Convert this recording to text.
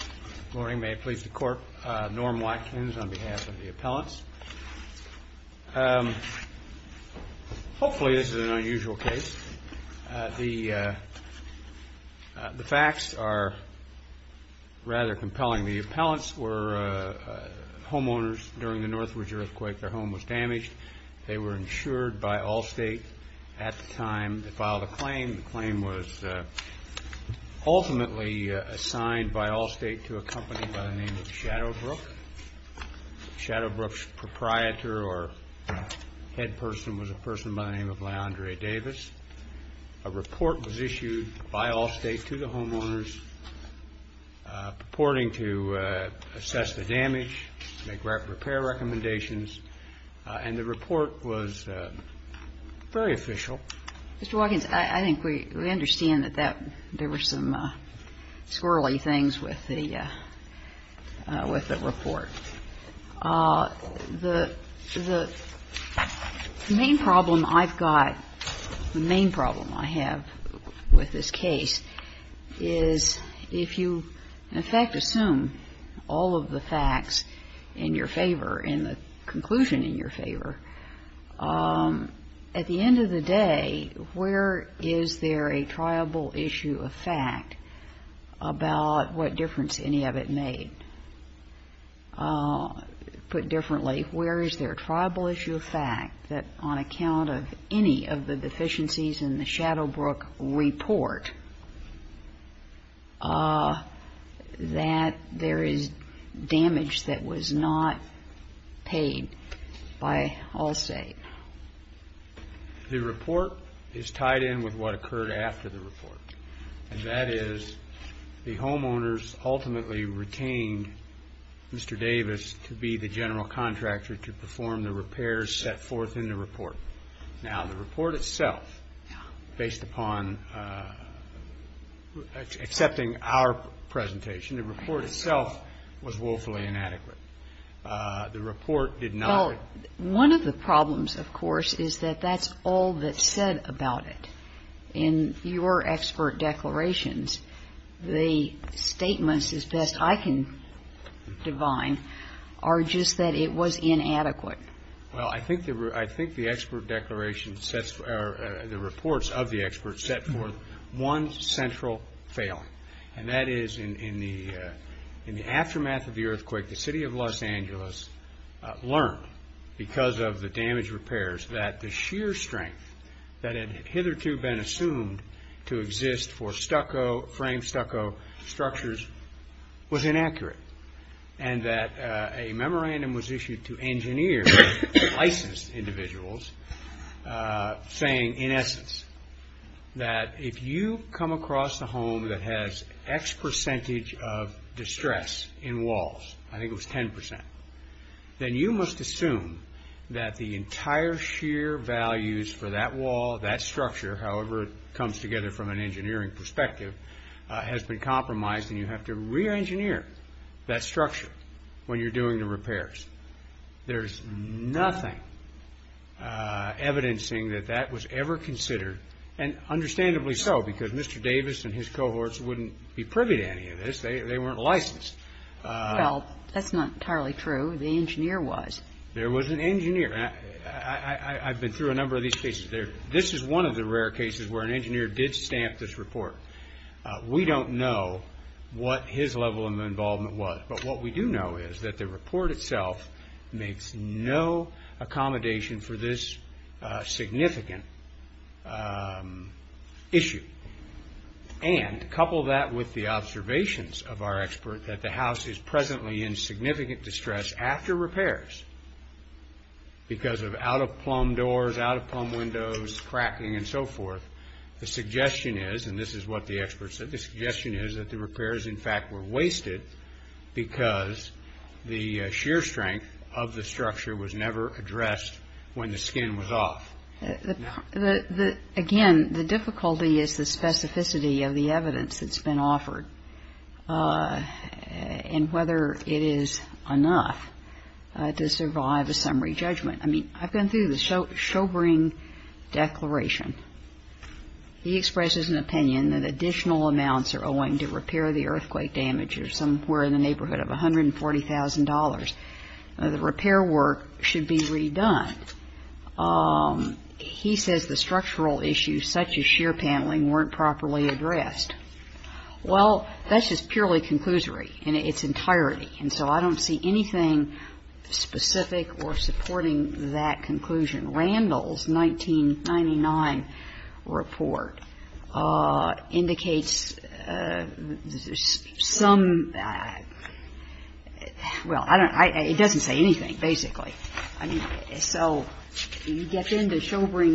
Good morning. May it please the Court, Norm Watkins on behalf of the appellants. Hopefully this is an unusual case. The facts are rather compelling. The appellants were homeowners during the Northridge earthquake. Their home was damaged. They were insured by ALLSTATE at the time. They filed a claim. The claim was ultimately assigned by ALLSTATE to a company by the name of Shadowbrook. Shadowbrook's proprietor or head person was a person by the name of LeAndre Davis. A report was issued by ALLSTATE to the homeowners purporting to Mr. Watkins, I think we understand that there were some squirrely things with the report. The main problem I've got, the main problem I have with this case is if you, in fact, assume all of the facts in your favor, in the conclusion in your favor, at the end of the day, where is there a triable issue of fact about what difference any of it made? Put differently, where is there a triable issue of fact that on account of any of the deficiencies in the Shadowbrook report that there is damage that was not paid by ALLSTATE? The report is tied in with what occurred after the report, and that is the homeowners ultimately retained Mr. Davis to be the general contractor to perform the repairs set forth in the report. Now, the report itself, based upon accepting our presentation, the report itself was woefully inadequate. The report did not ---- One of the problems, of course, is that that's all that's said about it. In your expert declarations, the statements as best I can divine are just that it was inadequate. Well, I think the expert declaration sets, or the reports of the experts set forth one central failing, and that is in the aftermath of the earthquake, the City of Los Angeles learned, because of the damage repairs, that the sheer strength that had hitherto been assumed to exist for frame stucco structures was inaccurate, and that a memorandum was issued to engineer licensed individuals saying, in essence, that if you come across a home that has X percentage of distress in walls, I think it was 10%, then you must assume that the entire sheer values for that wall, that structure, however it comes together from an engineering perspective, has been compromised, and you have to re-engineer that structure when you're doing the repairs. There's nothing evidencing that that was ever considered, and understandably so, because Mr. Davis and his cohorts wouldn't be privy to any of this. They weren't licensed. Well, that's not entirely true. The engineer was. There was an engineer. I've been through a number of these cases. This is one of the rare cases where an engineer did stamp this report. We don't know what his level of involvement was, but what we do know is that the report itself makes no accommodation for this significant issue, and couple that with the observations of our expert that the house is presently in significant distress after repairs because of out-of-plumb doors, out-of-plumb windows, cracking, and so forth. The suggestion is, and this is what the expert said, the suggestion is that the repairs, in fact, were wasted because the sheer strength of the structure was never addressed when the skin was off. The, again, the difficulty is the specificity of the evidence that's been offered and whether it is enough to survive a summary judgment. I mean, I've gone through the Sjobring Declaration. He expresses an opinion that additional amounts are owing to repair the earthquake damage are somewhere in the neighborhood of $140,000. The repair work should be redone. He says the structural issues, such as sheer paneling, weren't properly addressed. Well, that's just purely conclusory in its entirety, and so I don't see anything specific or supporting that conclusion. Randall's 1999 report indicates that there's some, well, I don't, it doesn't say anything, basically. So you get into Sjobring's